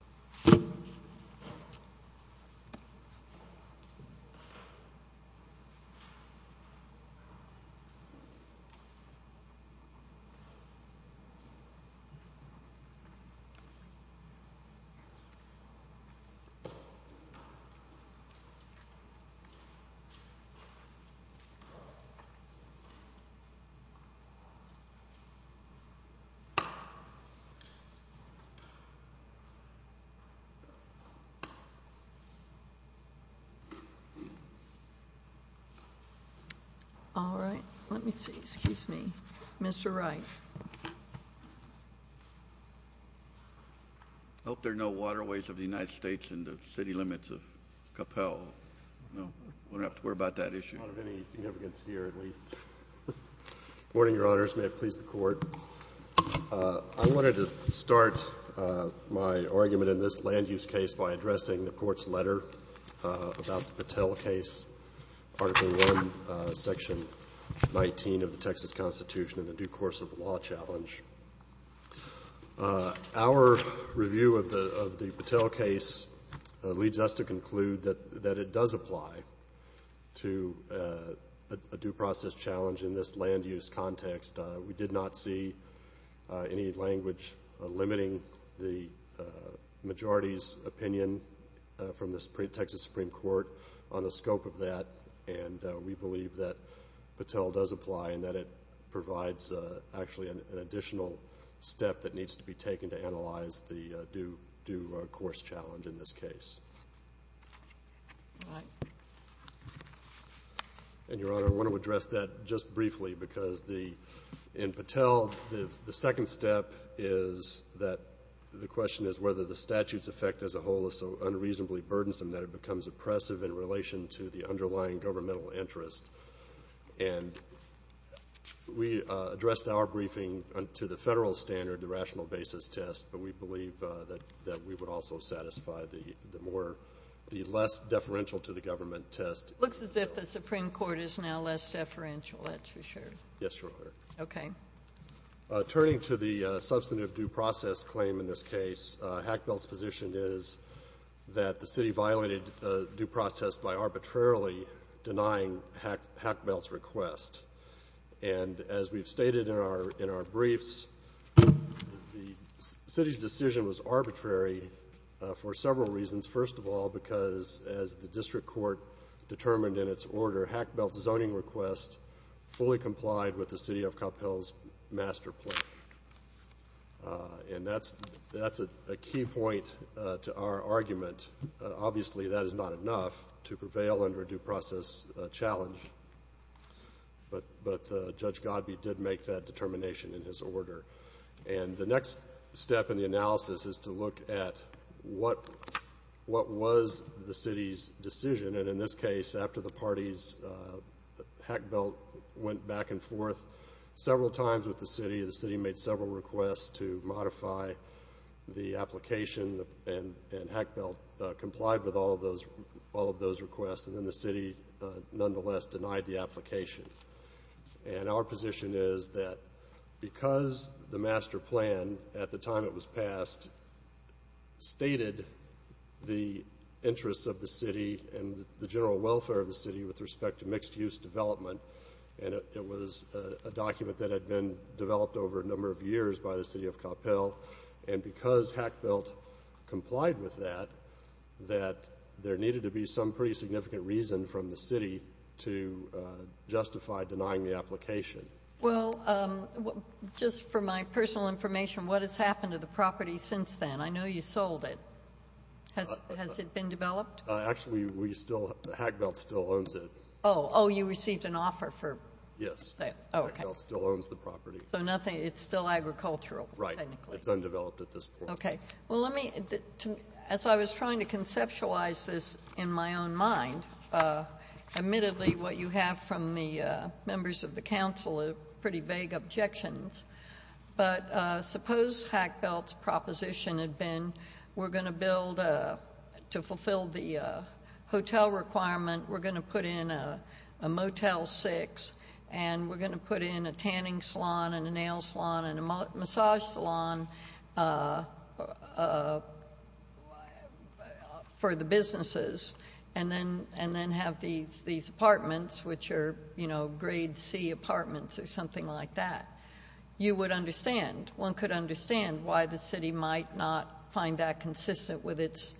L.P. v. City of Coppell I hope there are no waterways of the United States in the city limits of Coppell. I don't have to worry about that issue. I want to start my argument in this land use case by addressing the Court's letter about the Patel case, Article I, Section 19 of the Texas Constitution and the Due Course of the Law Challenge. Our review of the Patel case leads us to conclude that it does apply to a due process challenge in this land use context. We did not see any language limiting the majority's opinion from the Texas Supreme Court on the scope of that. And we believe that Patel does apply and that it provides actually an additional step that needs to be taken to analyze the due course challenge in this case. And, Your Honor, I want to address that just briefly because in Patel, the second step is that the question is whether the statute's effect as a whole is so unreasonably burdensome that it becomes oppressive in relation to the underlying governmental interest. And we addressed our briefing to the federal standard, the rational basis test, but we believe that we would also satisfy the less deferential to the government test. It looks as if the Supreme Court is now less deferential, that's for sure. Yes, Your Honor. Okay. Turning to the substantive due process claim in this case, Hackbelt's position is that the city violated due process by arbitrarily denying Hackbelt's request. And as we've stated in our briefs, the city's decision was arbitrary for several reasons. First of all, because as the district court determined in its order, Hackbelt's zoning request fully complied with the city of Cuphill's master plan. And that's a key point to our argument. Obviously, that is not enough to prevail under a due process challenge. But Judge Godbee did make that determination in his order. And the next step in the analysis is to look at what was the city's decision. And in this case, after the parties, Hackbelt went back and forth several times with the city. The city made several requests to modify the application, and Hackbelt complied with all of those requests. And then the city, nonetheless, denied the application. And our position is that because the master plan, at the time it was passed, stated the interests of the city and the general welfare of the city with respect to mixed-use development, and it was a document that had been developed over a number of years by the city of Cuphill, and because Hackbelt complied with that, that there needed to be some pretty significant reason from the city to justify denying the application. Well, just for my personal information, what has happened to the property since then? I know you sold it. Has it been developed? Actually, Hackbelt still owns it. Oh, you received an offer for it. Yes. Okay. Hackbelt still owns the property. So it's still agricultural. Right. It's undeveloped at this point. Okay. Well, as I was trying to conceptualize this in my own mind, admittedly what you have from the members of the council are pretty vague objections, but suppose Hackbelt's proposition had been, we're going to build to fulfill the hotel requirement, we're going to put in a Motel 6, and we're going to put in a tanning salon and a nail salon and a massage salon for the businesses, and then have these apartments, which are, you know, grade C apartments or something like that. You would understand. One could understand why the city might not find that consistent with its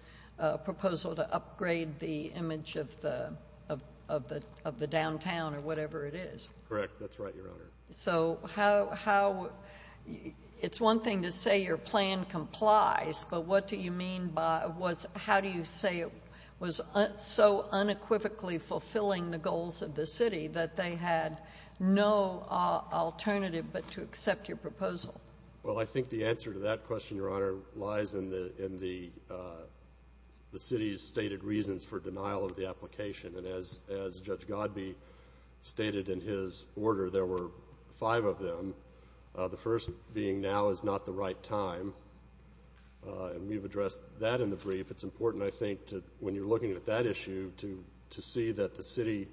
proposal to upgrade the image of the downtown or whatever it is. Correct. That's right, Your Honor. So it's one thing to say your plan complies, but what do you mean by how do you say it was so unequivocally fulfilling the goals of the city that they had no alternative but to accept your proposal? Well, I think the answer to that question, Your Honor, lies in the city's stated reasons for denial of the application, and as Judge Godbee stated in his order, there were five of them, the first being now is not the right time, and we've addressed that in the brief. It's important, I think, when you're looking at that issue to see that the city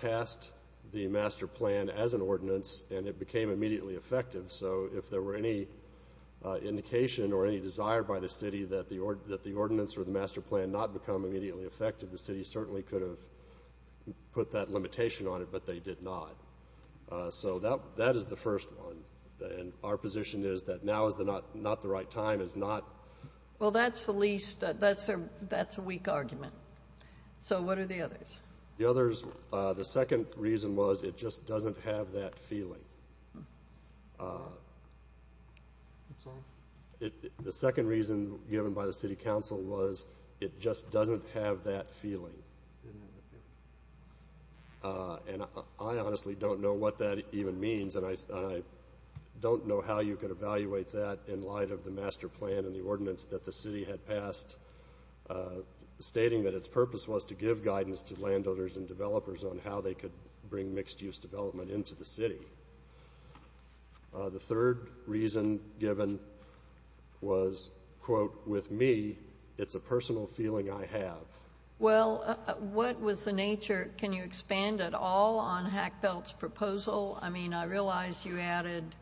passed the master plan as an ordinance and it became immediately effective. So if there were any indication or any desire by the city that the ordinance or the master plan not become immediately effective, the city certainly could have put that limitation on it, but they did not. So that is the first one, and our position is that now is not the right time is not. Well, that's the least, that's a weak argument. So what are the others? The others, the second reason was it just doesn't have that feeling. The second reason given by the city council was it just doesn't have that feeling, and I honestly don't know what that even means, and I don't know how you could evaluate that in light of the master plan and the ordinance that the city had passed stating that its purpose was to give guidance to landowners and developers on how they could bring mixed-use development into the city. The third reason given was, quote, with me, it's a personal feeling I have. Well, what was the nature? Can you expand at all on Hackbelt's proposal? I mean, I realize you added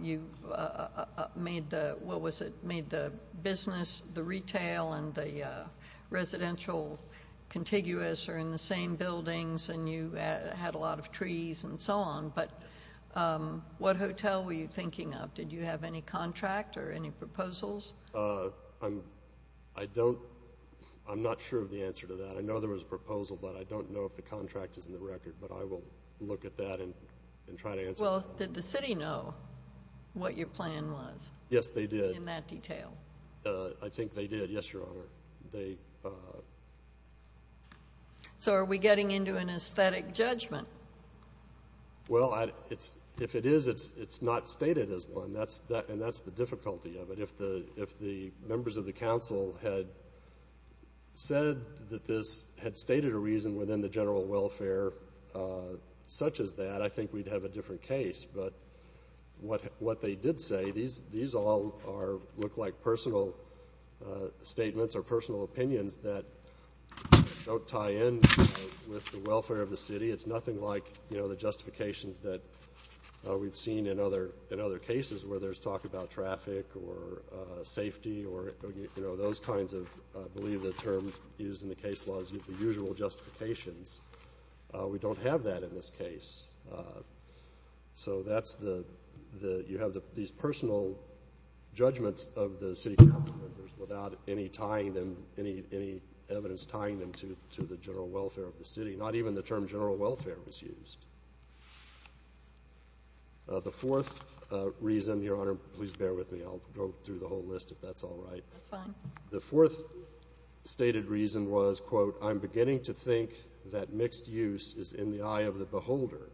you made the business, the retail, and the residential contiguous are in the same buildings, and you had a lot of trees and so on, but what hotel were you thinking of? Did you have any contract or any proposals? I'm not sure of the answer to that. I know there was a proposal, but I don't know if the contract is in the record, but I will look at that and try to answer it. Well, did the city know what your plan was? Yes, they did. In that detail? I think they did, yes, Your Honor. So are we getting into an aesthetic judgment? Well, if it is, it's not stated as one, and that's the difficulty of it. If the members of the council had said that this had stated a reason within the general welfare such as that, I think we'd have a different case. But what they did say, these all look like personal statements or personal opinions that don't tie in with the welfare of the city. It's nothing like, you know, the justifications that we've seen in other cases where there's talk about traffic or safety or, you know, those kinds of, I believe the term used in the case law is the usual justifications. We don't have that in this case. So that's the you have these personal judgments of the city council members without any tying them, any evidence tying them to the general welfare of the city. Not even the term general welfare was used. The fourth reason, Your Honor, please bear with me. I'll go through the whole list if that's all right. That's fine. The fourth stated reason was, quote, I'm beginning to think that mixed use is in the eye of the beholder.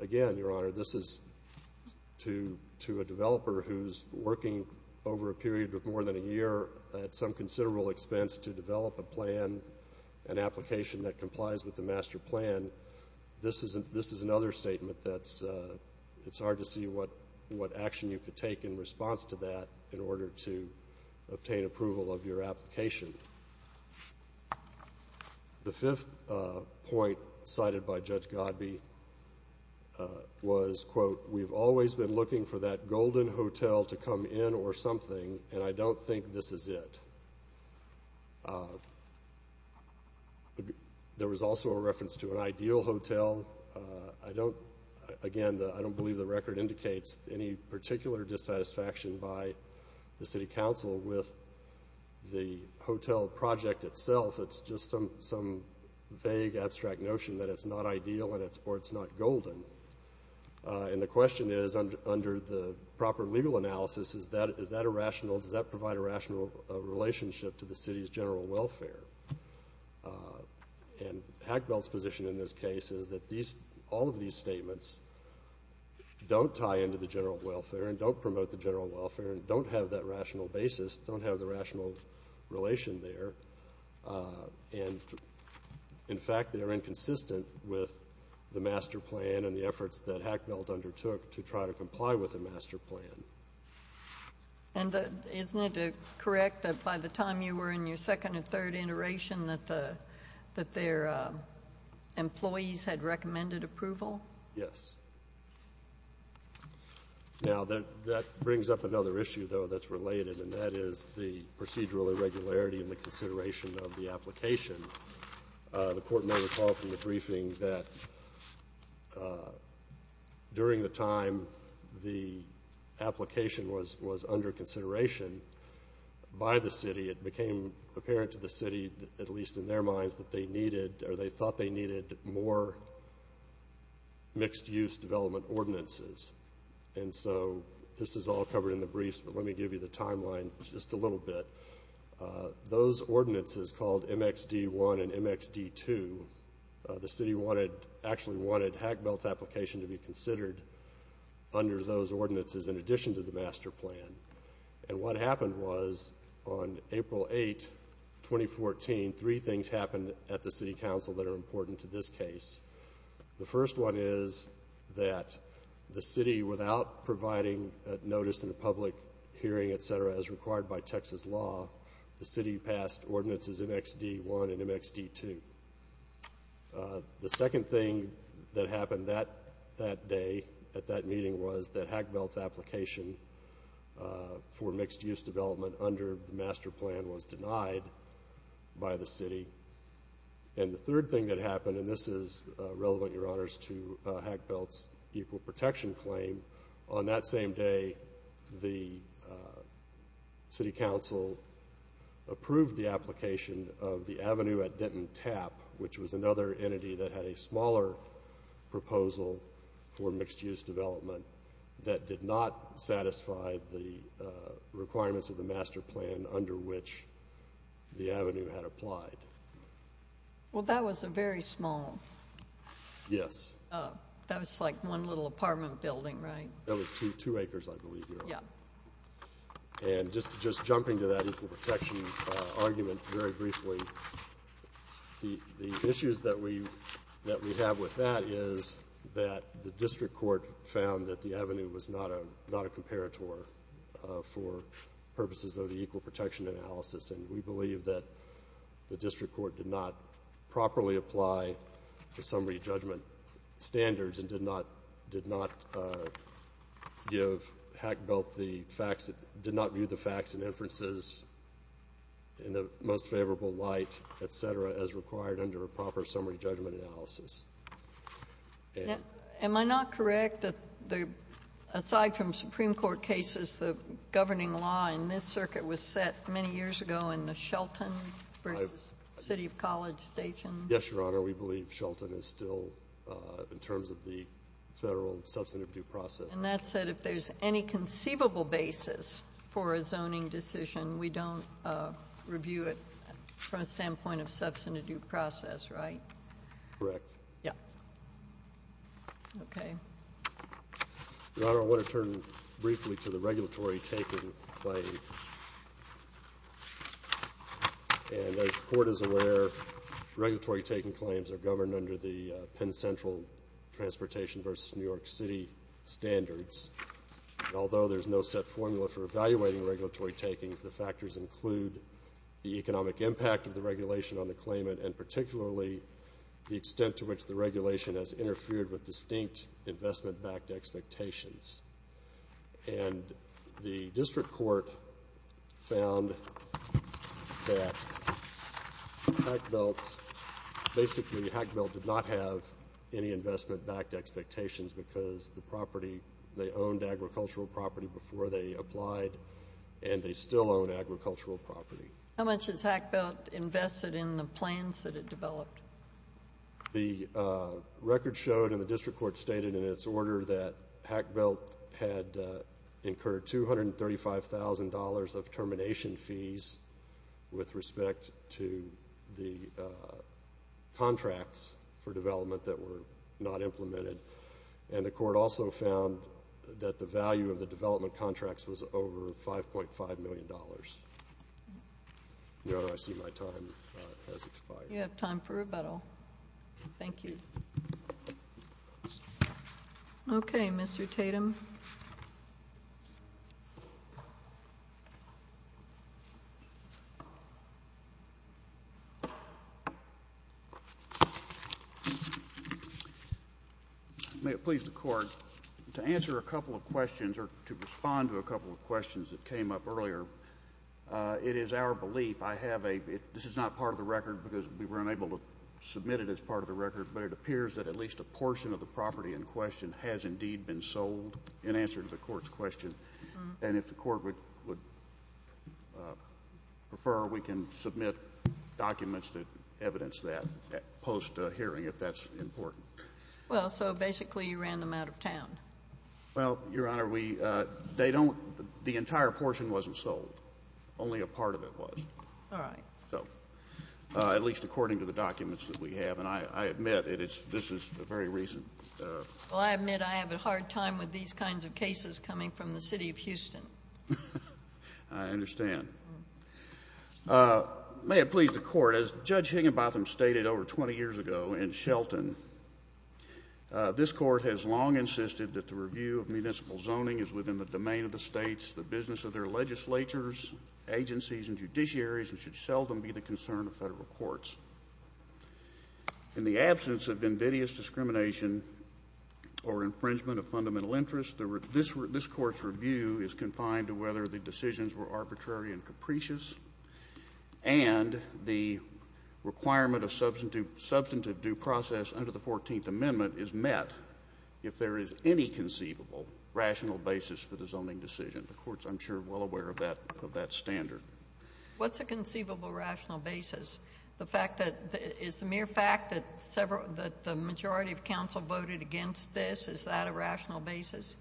Again, Your Honor, this is to a developer who's working over a period of more than a year at some considerable expense to develop a plan, an application that complies with the master plan. This is another statement that it's hard to see what action you could take in response to that in order to obtain approval of your application. The fifth point cited by Judge Godbee was, quote, we've always been looking for that golden hotel to come in or something, and I don't think this is it. There was also a reference to an ideal hotel. Again, I don't believe the record indicates any particular dissatisfaction by the city council with the hotel project itself. It's just some vague abstract notion that it's not ideal or it's not golden. And the question is, under the proper legal analysis, is that a rational, does that provide a rational relationship to the city's general welfare? And Hackbell's position in this case is that all of these statements don't tie into the general welfare and don't promote the general welfare and don't have that rational basis, don't have the rational relation there. And, in fact, they are inconsistent with the master plan and the efforts that Hackbell undertook to try to comply with the master plan. And isn't it correct that by the time you were in your second and third iteration that their employees had recommended approval? Yes. Now, that brings up another issue, though, that's related, and that is the procedural irregularity in the consideration of the application. The court may recall from the briefing that during the time the application was under consideration by the city, it became apparent to the city, at least in their minds, that they needed or they thought they needed more mixed-use development ordinances. And so this is all covered in the briefs, but let me give you the timeline just a little bit. Those ordinances called MXD-1 and MXD-2, the city wanted, actually wanted Hackbell's application to be considered under those ordinances in addition to the master plan. And what happened was on April 8, 2014, three things happened at the city council that are important to this case. The first one is that the city, without providing notice in a public hearing, et cetera, as required by Texas law, the city passed ordinances MXD-1 and MXD-2. The second thing that happened that day at that meeting was that Hackbell's application for mixed-use development under the master plan was denied by the city. And the third thing that happened, and this is relevant, Your Honors, to Hackbell's equal protection claim, on that same day the city council approved the application of the avenue at Denton Tap, which was another entity that had a smaller proposal for mixed-use development that did not satisfy the requirements of the master plan under which the avenue had applied. Well, that was a very small. Yes. That was like one little apartment building, right? That was two acres, I believe, Your Honor. Yeah. And just jumping to that equal protection argument very briefly, the issues that we have with that is that the district court found that the avenue was not a comparator for purposes of the equal protection analysis, and we believe that the district court did not properly apply the summary judgment standards and did not view the facts and inferences in the most favorable light, et cetera, as required under a proper summary judgment analysis. Am I not correct that, aside from Supreme Court cases, the governing law in this circuit was set many years ago in the Shelton versus City of College station? Yes, Your Honor. We believe Shelton is still in terms of the federal substantive due process. And that said, if there's any conceivable basis for a zoning decision, we don't review it from a standpoint of substantive due process, right? Correct. Yeah. Okay. Your Honor, I want to turn briefly to the regulatory taking claim. And as the Court is aware, regulatory taking claims are governed under the Penn Central Transportation versus New York City standards. Although there's no set formula for evaluating regulatory takings, the factors include the economic impact of the regulation on the claimant and particularly the extent to which the regulation has interfered with distinct investment-backed expectations. And the district court found that Hackbelt's ‑‑ basically, Hackbelt did not have any investment-backed expectations because the property, they owned agricultural property before they applied, and they still own agricultural property. How much has Hackbelt invested in the plans that it developed? The record showed, and the district court stated in its order, that Hackbelt had incurred $235,000 of termination fees with respect to the contracts for development that were not implemented. And the court also found that the value of the development contracts was over $5.5 million. You have time for rebuttal. Thank you. Okay, Mr. Tatum. May it please the Court, to answer a couple of questions or to respond to a couple of questions that came up earlier, it is our belief, and if I have a ‑‑ this is not part of the record because we were unable to submit it as part of the record, but it appears that at least a portion of the property in question has indeed been sold in answer to the Court's question. And if the Court would prefer, we can submit documents that evidence that post-hearing, if that's important. Well, so basically you ran them out of town. Well, Your Honor, we ‑‑ they don't ‑‑ the entire portion wasn't sold. Only a part of it was. All right. So at least according to the documents that we have, and I admit this is a very recent ‑‑ Well, I admit I have a hard time with these kinds of cases coming from the City of Houston. I understand. May it please the Court, as Judge Higginbotham stated over 20 years ago in Shelton, this Court has long insisted that the review of municipal zoning is within the domain of the states, the business of their legislatures, agencies, and judiciaries, and should seldom be the concern of federal courts. In the absence of invidious discrimination or infringement of fundamental interest, this Court's review is confined to whether the decisions were arbitrary and capricious, and the requirement of substantive due process under the 14th Amendment is met if there is any conceivable rational basis for the zoning decision. The Court's, I'm sure, well aware of that standard. What's a conceivable rational basis? The fact that ‑‑ is the mere fact that several ‑‑ that the majority of counsel voted against this, is that a rational basis?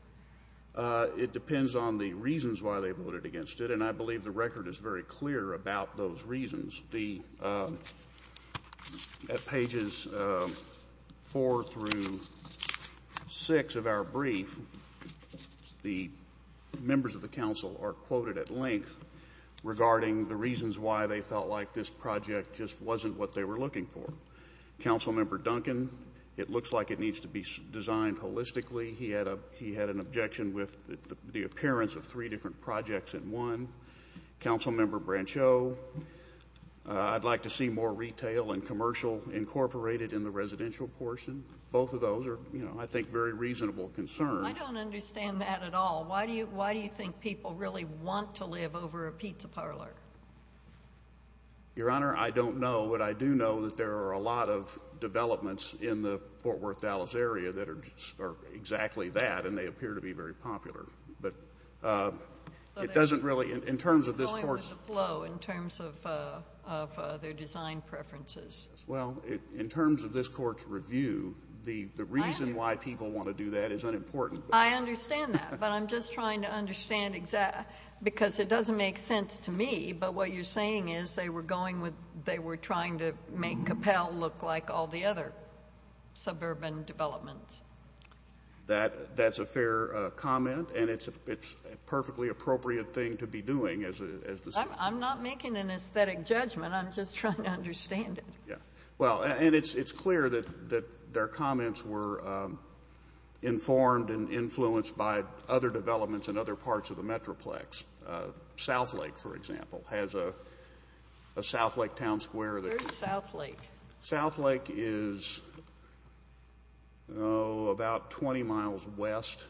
It depends on the reasons why they voted against it, and I believe the record is very clear about those reasons. The ‑‑ at pages 4 through 6 of our brief, the members of the counsel are quoted at length regarding the reasons why they felt like this project just wasn't what they were looking for. Councilmember Duncan, it looks like it needs to be designed holistically. He had an objection with the appearance of three different projects in one. Councilmember Brancheau, I'd like to see more retail and commercial incorporated in the residential portion. Both of those are, you know, I think very reasonable concerns. I don't understand that at all. Why do you think people really want to live over a pizza parlor? Your Honor, I don't know, but I do know that there are a lot of developments in the Fort Worth Dallas area that are exactly that, and they appear to be very popular. But it doesn't really, in terms of this court's ‑‑ Going with the flow in terms of their design preferences. Well, in terms of this court's review, the reason why people want to do that is unimportant. I understand that, but I'm just trying to understand, because it doesn't make sense to me, but what you're saying is they were going with, they were trying to make Capelle look like all the other suburban developments. That's a fair comment, and it's a perfectly appropriate thing to be doing. I'm not making an aesthetic judgment. I'm just trying to understand it. Well, and it's clear that their comments were informed and influenced by other developments in other parts of the metroplex. Southlake, for example, has a Southlake Town Square. Where's Southlake? Southlake is about 20 miles west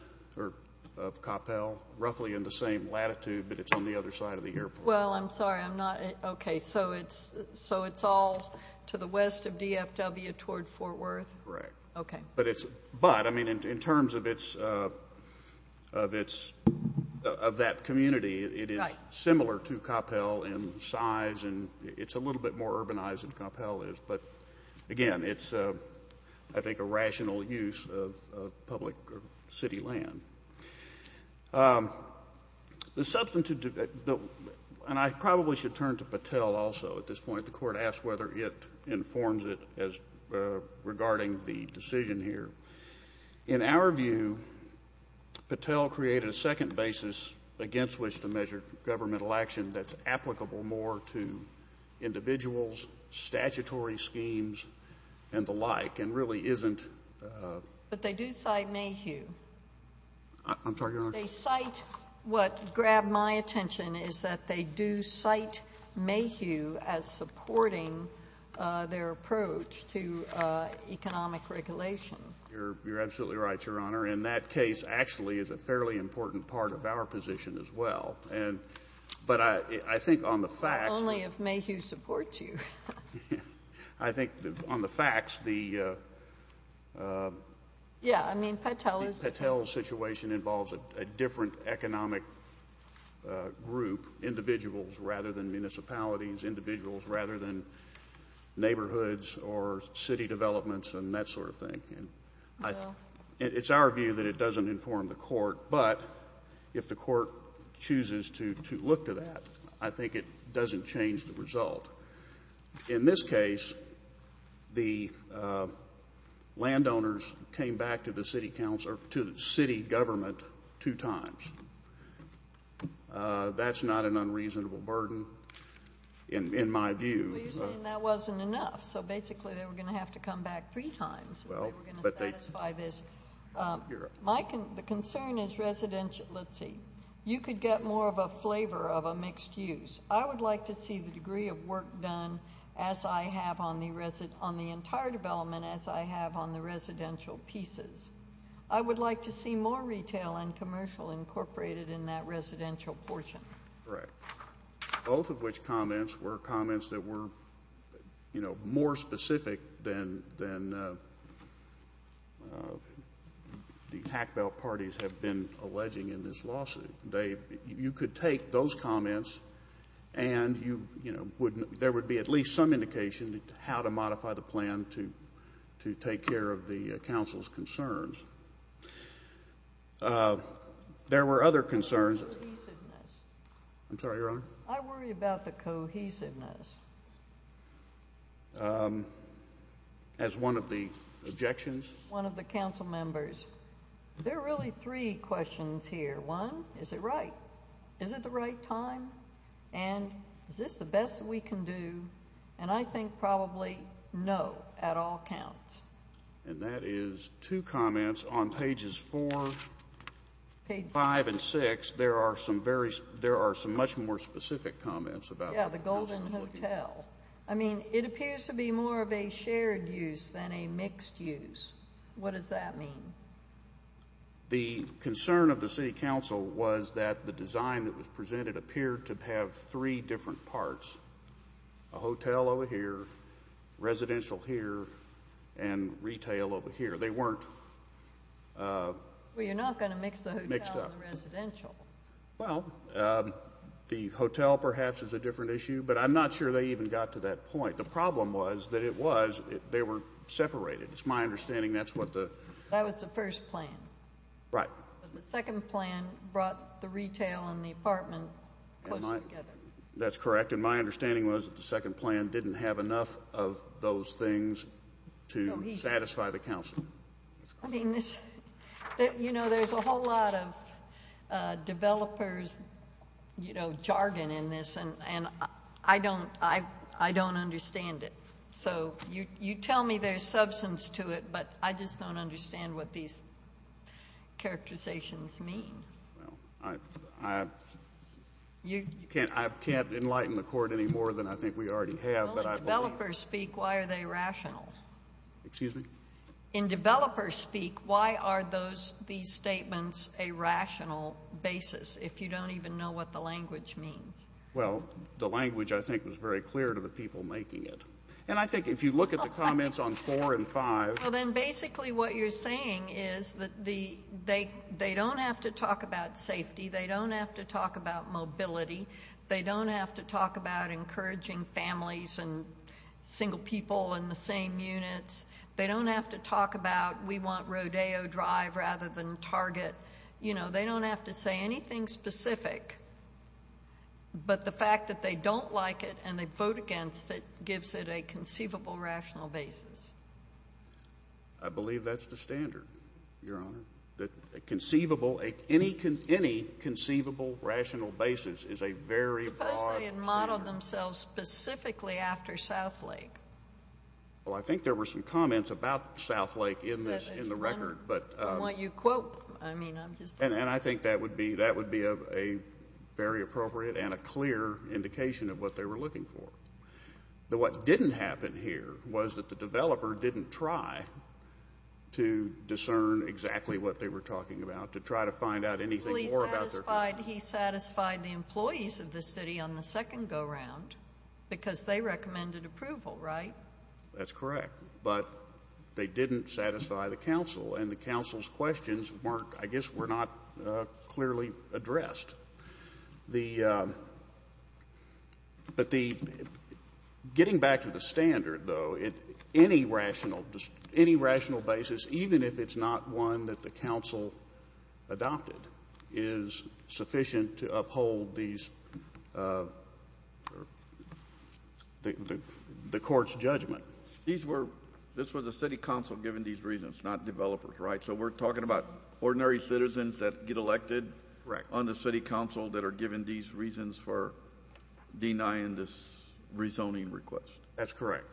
of Capelle, roughly in the same latitude, but it's on the other side of the airport. Well, I'm sorry. Okay, so it's all to the west of DFW toward Fort Worth? Correct. Okay. But, I mean, in terms of that community, it is similar to Capelle in size, and it's a little bit more urbanized than Capelle is. But, again, it's, I think, a rational use of public city land. The substantive, and I probably should turn to Patel also at this point. The court asked whether it informs it regarding the decision here. In our view, Patel created a second basis against which to measure governmental action that's applicable more to individuals, statutory schemes, and the like, and really isn't. But they do cite Mayhew. I'm sorry, Your Honor? They cite what grabbed my attention is that they do cite Mayhew as supporting their approach to economic regulation. You're absolutely right, Your Honor. And that case actually is a fairly important part of our position as well. But I think on the facts. Only if Mayhew supports you. I think on the facts, the... Yeah, I mean, Patel is... Patel's situation involves a different economic group, individuals rather than municipalities, individuals rather than neighborhoods or city developments, and that sort of thing. It's our view that it doesn't inform the court. But if the court chooses to look to that, I think it doesn't change the result. In this case, the landowners came back to the city government two times. That's not an unreasonable burden in my view. Well, you're saying that wasn't enough. So basically they were going to have to come back three times if they were going to satisfy this. The concern is residential... Let's see. You could get more of a flavor of a mixed use. I would like to see the degree of work done as I have on the entire development as I have on the residential pieces. I would like to see more retail and commercial incorporated in that residential portion. Correct. Both of which comments were comments that were more specific than the hack belt parties have been alleging in this lawsuit. You could take those comments and there would be at least some indication how to modify the plan to take care of the council's concerns. There were other concerns... I'm sorry, Your Honor. I worry about the cohesiveness. As one of the objections... One of the council members. There are really three questions here. One, is it right? Is it the right time? And is this the best that we can do? And I think probably no at all counts. And that is two comments on pages four, five, and six. There are some much more specific comments about... Yeah, the Golden Hotel. I mean, it appears to be more of a shared use than a mixed use. What does that mean? The concern of the city council was that the design that was presented appeared to have three different parts, a hotel over here, residential here, and retail over here. They weren't... Well, you're not going to mix the hotel and the residential. Well, the hotel perhaps is a different issue, but I'm not sure they even got to that point. The problem was that they were separated. It's my understanding that's what the... That was the first plan. Right. But the second plan brought the retail and the apartment closer together. That's correct. And my understanding was that the second plan didn't have enough of those things to satisfy the council. I mean, you know, there's a whole lot of developers, you know, jargon in this, and I don't understand it. So you tell me there's substance to it, but I just don't understand what these characterizations mean. Well, I can't enlighten the court any more than I think we already have. Well, in developer speak, why are they rational? Excuse me? In developer speak, why are these statements a rational basis, if you don't even know what the language means? Well, the language, I think, was very clear to the people making it. And I think if you look at the comments on four and five... They don't have to talk about safety. They don't have to talk about mobility. They don't have to talk about encouraging families and single people in the same units. They don't have to talk about we want Rodeo Drive rather than Target. You know, they don't have to say anything specific. But the fact that they don't like it and they vote against it gives it a conceivable rational basis. I believe that's the standard, Your Honor, that any conceivable rational basis is a very broad standard. Suppose they had modeled themselves specifically after Southlake. Well, I think there were some comments about Southlake in the record. I want you to quote... And I think that would be very appropriate and a clear indication of what they were looking for. What didn't happen here was that the developer didn't try to discern exactly what they were talking about, to try to find out anything more about their... He satisfied the employees of the city on the second go-round because they recommended approval, right? That's correct. But they didn't satisfy the council, and the council's questions weren't... I guess were not clearly addressed. But getting back to the standard, though, any rational basis, even if it's not one that the council adopted, is sufficient to uphold the court's judgment. This was the city council giving these reasons, not developers, right? So we're talking about ordinary citizens that get elected on the city council that are given these reasons for denying this rezoning request. That's correct.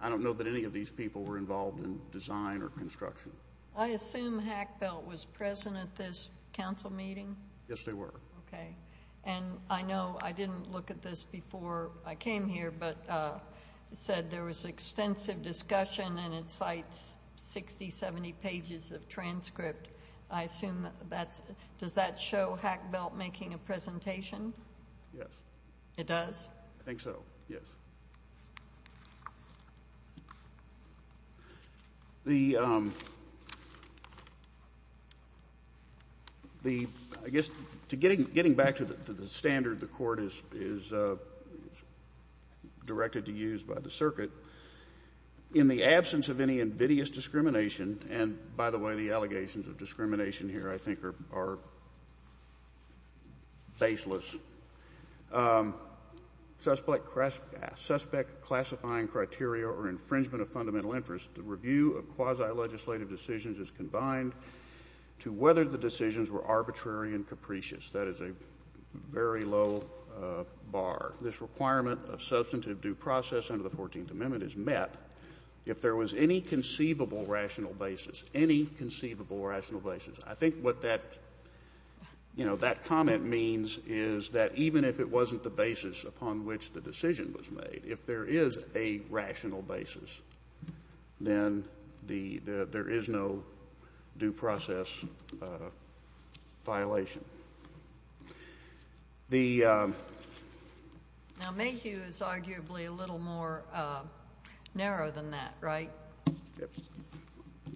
I don't know that any of these people were involved in design or construction. I assume Hack Belt was present at this council meeting? Yes, they were. Okay. And I know I didn't look at this before I came here, but it said there was extensive discussion, and it cites 60, 70 pages of transcript. I assume that's... Does that show Hack Belt making a presentation? Yes. It does? I think so, yes. Getting back to the standard the court is directed to use by the circuit, in the absence of any invidious discrimination, and by the way the allegations of discrimination here I think are baseless, suspect classifying criteria or infringement of fundamental interest, the review of quasi-legislative decisions is combined to whether the decisions were arbitrary and capricious. That is a very low bar. This requirement of substantive due process under the 14th Amendment is met if there was any conceivable rational basis, any conceivable rational basis. I think what that comment means is that even if it wasn't the basis upon which the decision was made, if there is a rational basis, then there is no due process violation. Now Mayhew is arguably a little more narrow than that, right?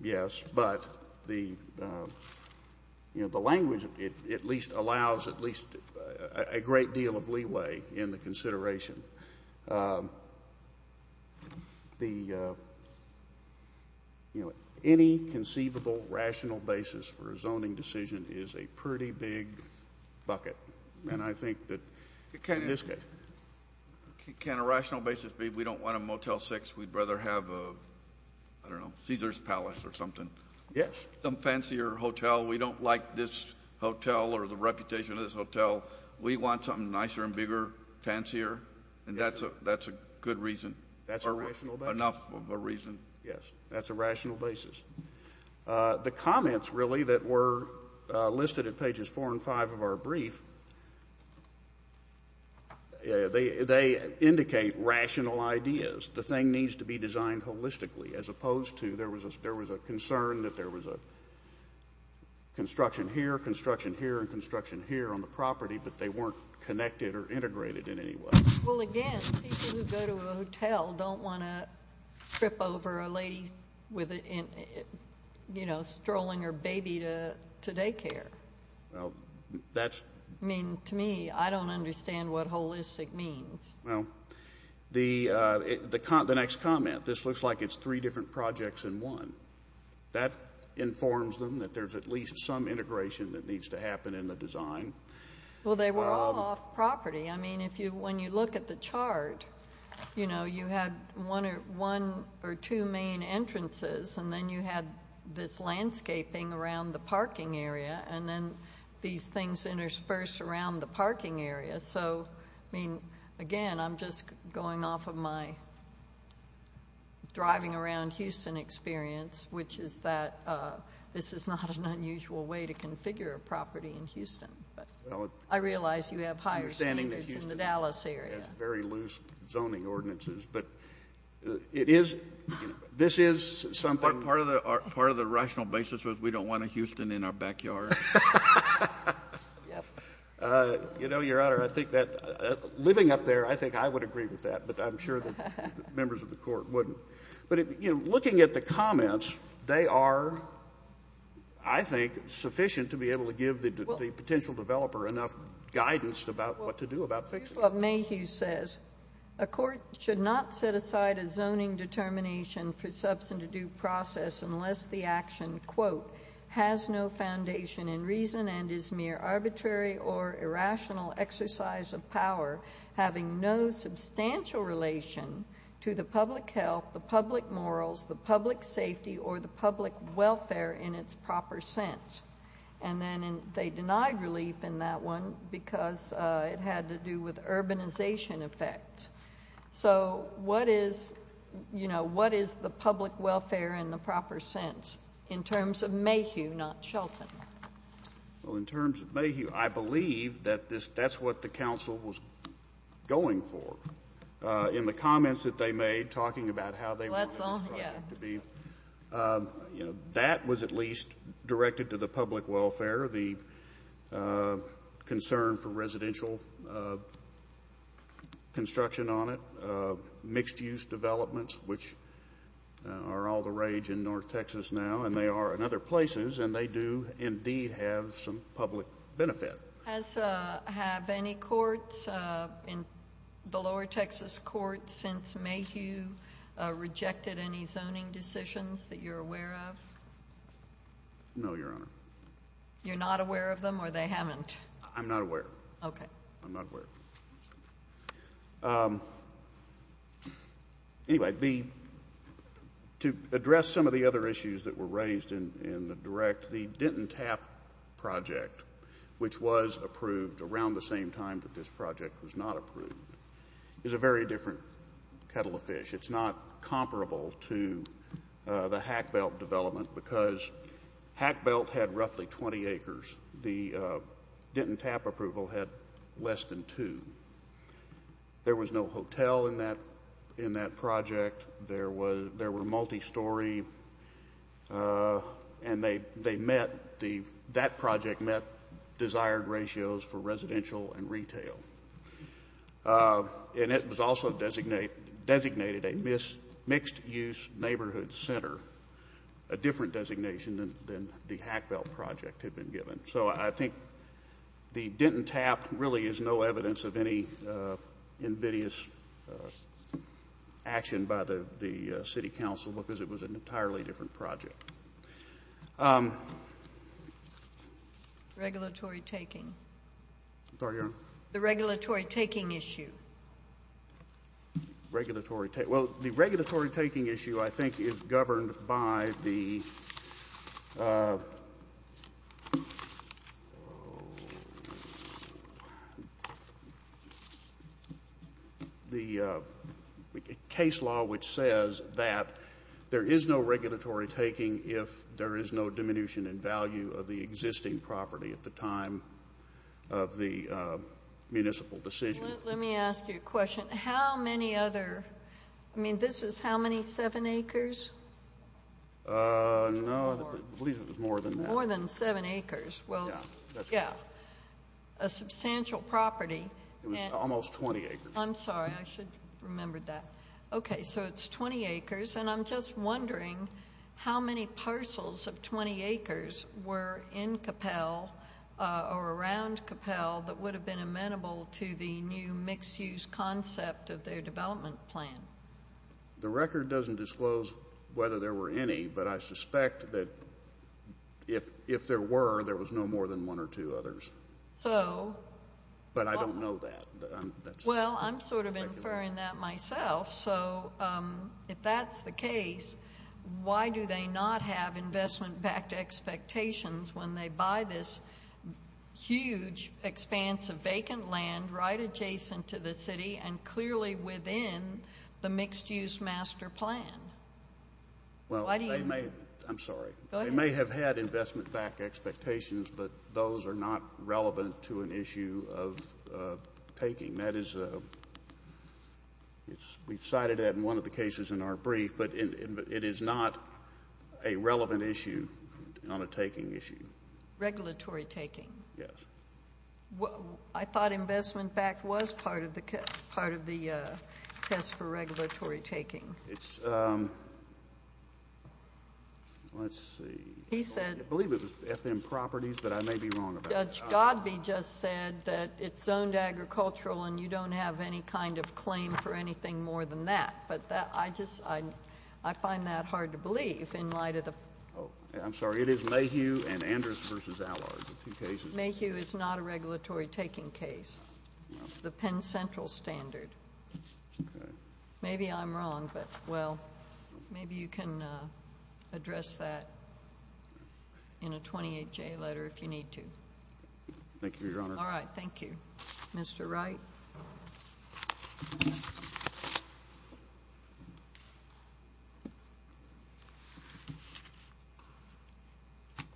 Yes, but the language at least allows at least a great deal of leeway in the consideration. Any conceivable rational basis for a zoning decision is a pretty big bucket, and I think that in this case... Can a rational basis be we don't want a Motel 6, we'd rather have a, I don't know, Caesar's Palace or something. Yes. Some fancier hotel. We don't like this hotel or the reputation of this hotel. We want something nicer and bigger, fancier, and that's a good reason. That's a rational basis. Or enough of a reason. Yes, that's a rational basis. The comments really that were listed at pages 4 and 5 of our brief, they indicate rational ideas. The thing needs to be designed holistically as opposed to there was a concern that there was a construction here, construction here, and construction here on the property, but they weren't connected or integrated in any way. Well, again, people who go to a hotel don't want to trip over a lady, you know, strolling her baby to daycare. Well, that's... I mean, to me, I don't understand what holistic means. Well, the next comment, this looks like it's three different projects in one. That informs them that there's at least some integration that needs to happen in the design. Well, they were all off property. I mean, when you look at the chart, you know, you had one or two main entrances, and then you had this landscaping around the parking area, and then these things interspersed around the parking area. So, I mean, again, I'm just going off of my driving around Houston experience, which is that this is not an unusual way to configure a property in Houston. I realize you have higher standards in the Dallas area. Very loose zoning ordinances, but it is... this is something... Part of the rational basis was we don't want a Houston in our backyard. You know, Your Honor, I think that living up there, I think I would agree with that, but I'm sure the members of the Court wouldn't. But, you know, looking at the comments, they are, I think, sufficient to be able to give the potential developer enough guidance about what to do about fixing it. First of all, Mayhew says, A court should not set aside a zoning determination for substantive due process unless the action, quote, has no foundation in reason and is mere arbitrary or irrational exercise of power, having no substantial relation to the public health, the public morals, the public safety, or the public welfare in its proper sense. And then they denied relief in that one because it had to do with urbanization effects. So what is, you know, what is the public welfare in the proper sense in terms of Mayhew, not Shelton? Well, in terms of Mayhew, I believe that that's what the council was going for. In the comments that they made talking about how they wanted this project to be, you know, that was at least directed to the public welfare, the concern for residential construction on it, mixed-use developments, which are all the rage in North Texas now, and they are in other places, and they do indeed have some public benefit. Has, have any courts in the lower Texas courts since Mayhew rejected any zoning decisions that you're aware of? No, Your Honor. You're not aware of them, or they haven't? I'm not aware. Okay. I'm not aware. Anyway, the, to address some of the other issues that were raised in the direct, the Denton Tap project, which was approved around the same time that this project was not approved, is a very different kettle of fish. It's not comparable to the Hack Belt development because Hack Belt had roughly 20 acres. The Denton Tap approval had less than two. There was no hotel in that project. There were multi-story, and they met, that project met desired ratios for residential and retail. And it was also designated a mixed-use neighborhood center, a different designation than the Hack Belt project had been given. So I think the Denton Tap really is no evidence of any invidious action by the city council because it was an entirely different project. Regulatory taking. I'm sorry, Your Honor. The regulatory taking issue. Regulatory take. Well, the regulatory taking issue, I think, is governed by the case law which says that there is no regulatory taking if there is no diminution in value of the existing property at the time of the municipal decision. Let me ask you a question. How many other, I mean, this is how many, seven acres? No, I believe it was more than that. More than seven acres. Yeah. Yeah. A substantial property. It was almost 20 acres. I'm sorry. I should have remembered that. Okay. So it's 20 acres. And I'm just wondering how many parcels of 20 acres were in Capel or around Capel that would have been amenable to the new mixed-use concept of their development plan. The record doesn't disclose whether there were any, but I suspect that if there were, there was no more than one or two others. So. But I don't know that. Well, I'm sort of inferring that myself. So if that's the case, why do they not have investment-backed expectations when they buy this huge expanse of vacant land right adjacent to the city and clearly within the mixed-use master plan? Well, I'm sorry. Go ahead. We have had investment-backed expectations, but those are not relevant to an issue of taking. That is, we've cited that in one of the cases in our brief, but it is not a relevant issue on a taking issue. Regulatory taking. Yes. I thought investment-backed was part of the test for regulatory taking. It's, let's see. He said. I believe it was FM Properties, but I may be wrong about that. Judge Godby just said that it's zoned agricultural and you don't have any kind of claim for anything more than that. But I just, I find that hard to believe in light of the. I'm sorry. It is Mayhew and Anders versus Allard, the two cases. Mayhew is not a regulatory taking case. It's the Penn Central standard. Okay. Maybe I'm wrong, but, well, maybe you can address that in a 28-J letter if you need to. Thank you, Your Honor. All right. Thank you. Mr. Wright.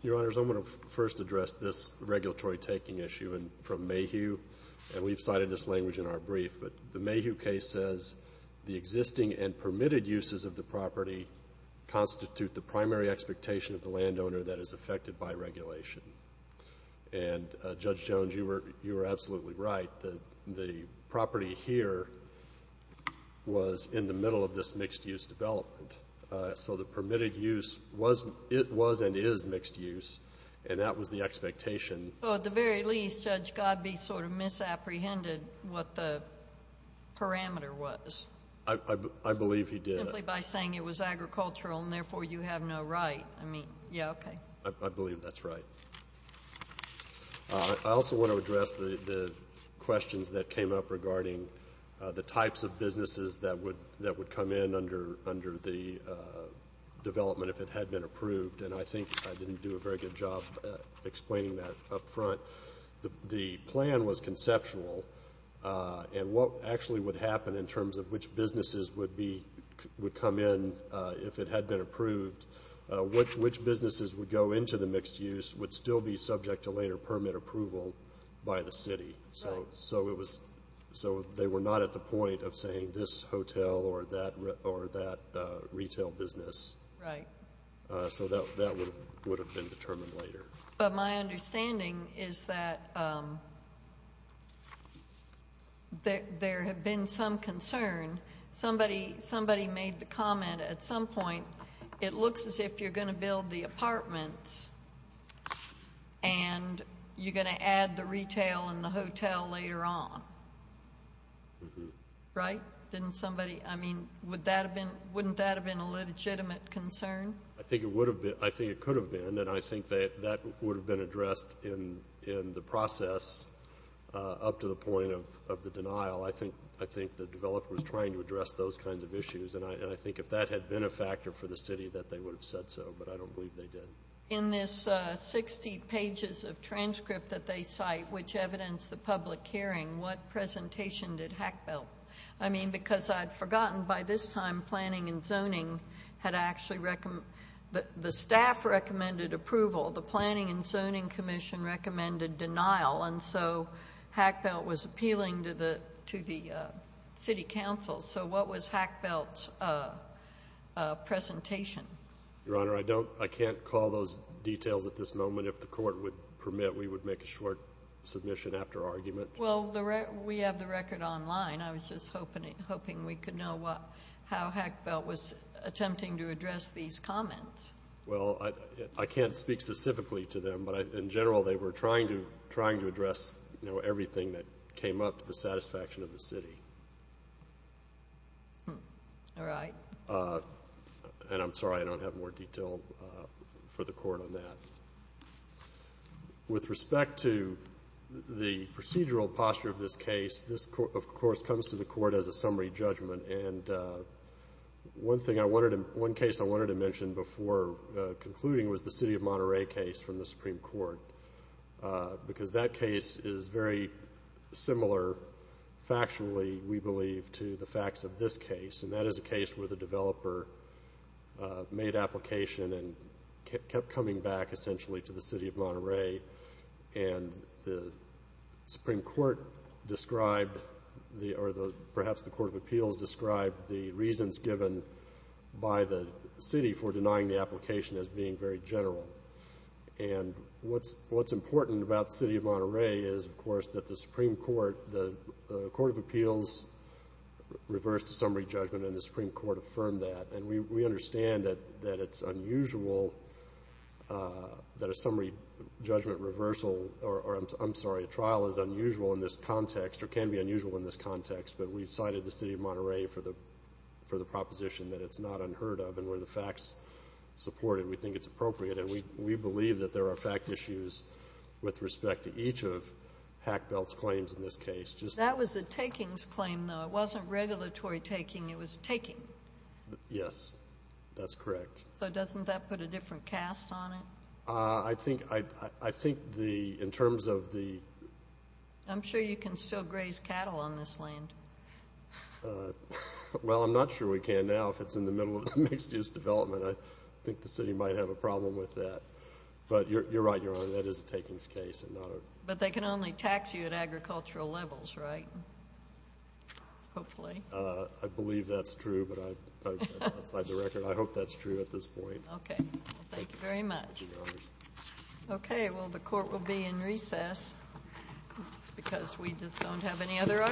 Your Honors, I'm going to first address this regulatory taking issue from Mayhew. And we've cited this language in our brief. But the Mayhew case says the existing and permitted uses of the property constitute the primary expectation of the landowner that is affected by regulation. And, Judge Jones, you were absolutely right. The property here was in the middle of this mixed-use development. So the permitted use was and is mixed use, and that was the expectation. So at the very least, Judge Godbee sort of misapprehended what the parameter was. I believe he did. Simply by saying it was agricultural and, therefore, you have no right. I mean, yeah, okay. I believe that's right. I also want to address the questions that came up regarding the types of businesses that would come in under the development if it had been approved. And I think I didn't do a very good job explaining that up front. The plan was conceptual. And what actually would happen in terms of which businesses would come in if it had been approved, which businesses would go into the mixed use would still be subject to later permit approval by the city. So they were not at the point of saying this hotel or that retail business. Right. So that would have been determined later. But my understanding is that there had been some concern. Somebody made the comment at some point, it looks as if you're going to build the apartments and you're going to add the retail and the hotel later on. Right? I mean, wouldn't that have been a legitimate concern? I think it would have been. I think it could have been. And I think that that would have been addressed in the process up to the point of the denial. I think the developer was trying to address those kinds of issues. And I think if that had been a factor for the city, that they would have said so. But I don't believe they did. In this 60 pages of transcript that they cite, which evidenced the public hearing, what presentation did Hackbelt? I mean, because I'd forgotten by this time planning and zoning had actually the staff recommended approval. The Planning and Zoning Commission recommended denial. And so Hackbelt was appealing to the city council. So what was Hackbelt's presentation? Your Honor, I can't call those details at this moment. If the court would permit, we would make a short submission after argument. Well, we have the record online. I was just hoping we could know how Hackbelt was attempting to address these comments. Well, I can't speak specifically to them. But in general, they were trying to address everything that came up to the satisfaction of the city. All right. And I'm sorry I don't have more detail for the court on that. With respect to the procedural posture of this case, this, of course, comes to the court as a summary judgment. And one case I wanted to mention before concluding was the city of Monterey case from the Supreme Court. Because that case is very similar factually, we believe, to the facts of this case. And that is a case where the developer made application and kept coming back, essentially, to the city of Monterey. And the Supreme Court described or perhaps the Court of Appeals described the reasons given by the city for denying the application as being very general. And what's important about the city of Monterey is, of course, that the Supreme Court, the Court of Appeals reversed the summary judgment and the Supreme Court affirmed that. And we understand that it's unusual, that a summary judgment reversal, or I'm sorry, a trial is unusual in this context or can be unusual in this context, but we cited the city of Monterey for the proposition that it's not unheard of. And where the facts support it, we think it's appropriate. And we believe that there are fact issues with respect to each of Hackbelt's claims in this case. That was a takings claim, though. It wasn't regulatory taking. It was taking. Yes, that's correct. So doesn't that put a different cast on it? I think in terms of the – I'm sure you can still graze cattle on this land. Well, I'm not sure we can now if it's in the middle of mixed-use development. I think the city might have a problem with that. But you're right, Your Honor, that is a takings case. But they can only tax you at agricultural levels, right? Hopefully. I believe that's true, but outside the record, I hope that's true at this point. Okay. Thank you very much. Thank you, Your Honor. Okay. Well, the court will be in recess because we just don't have any other arguments.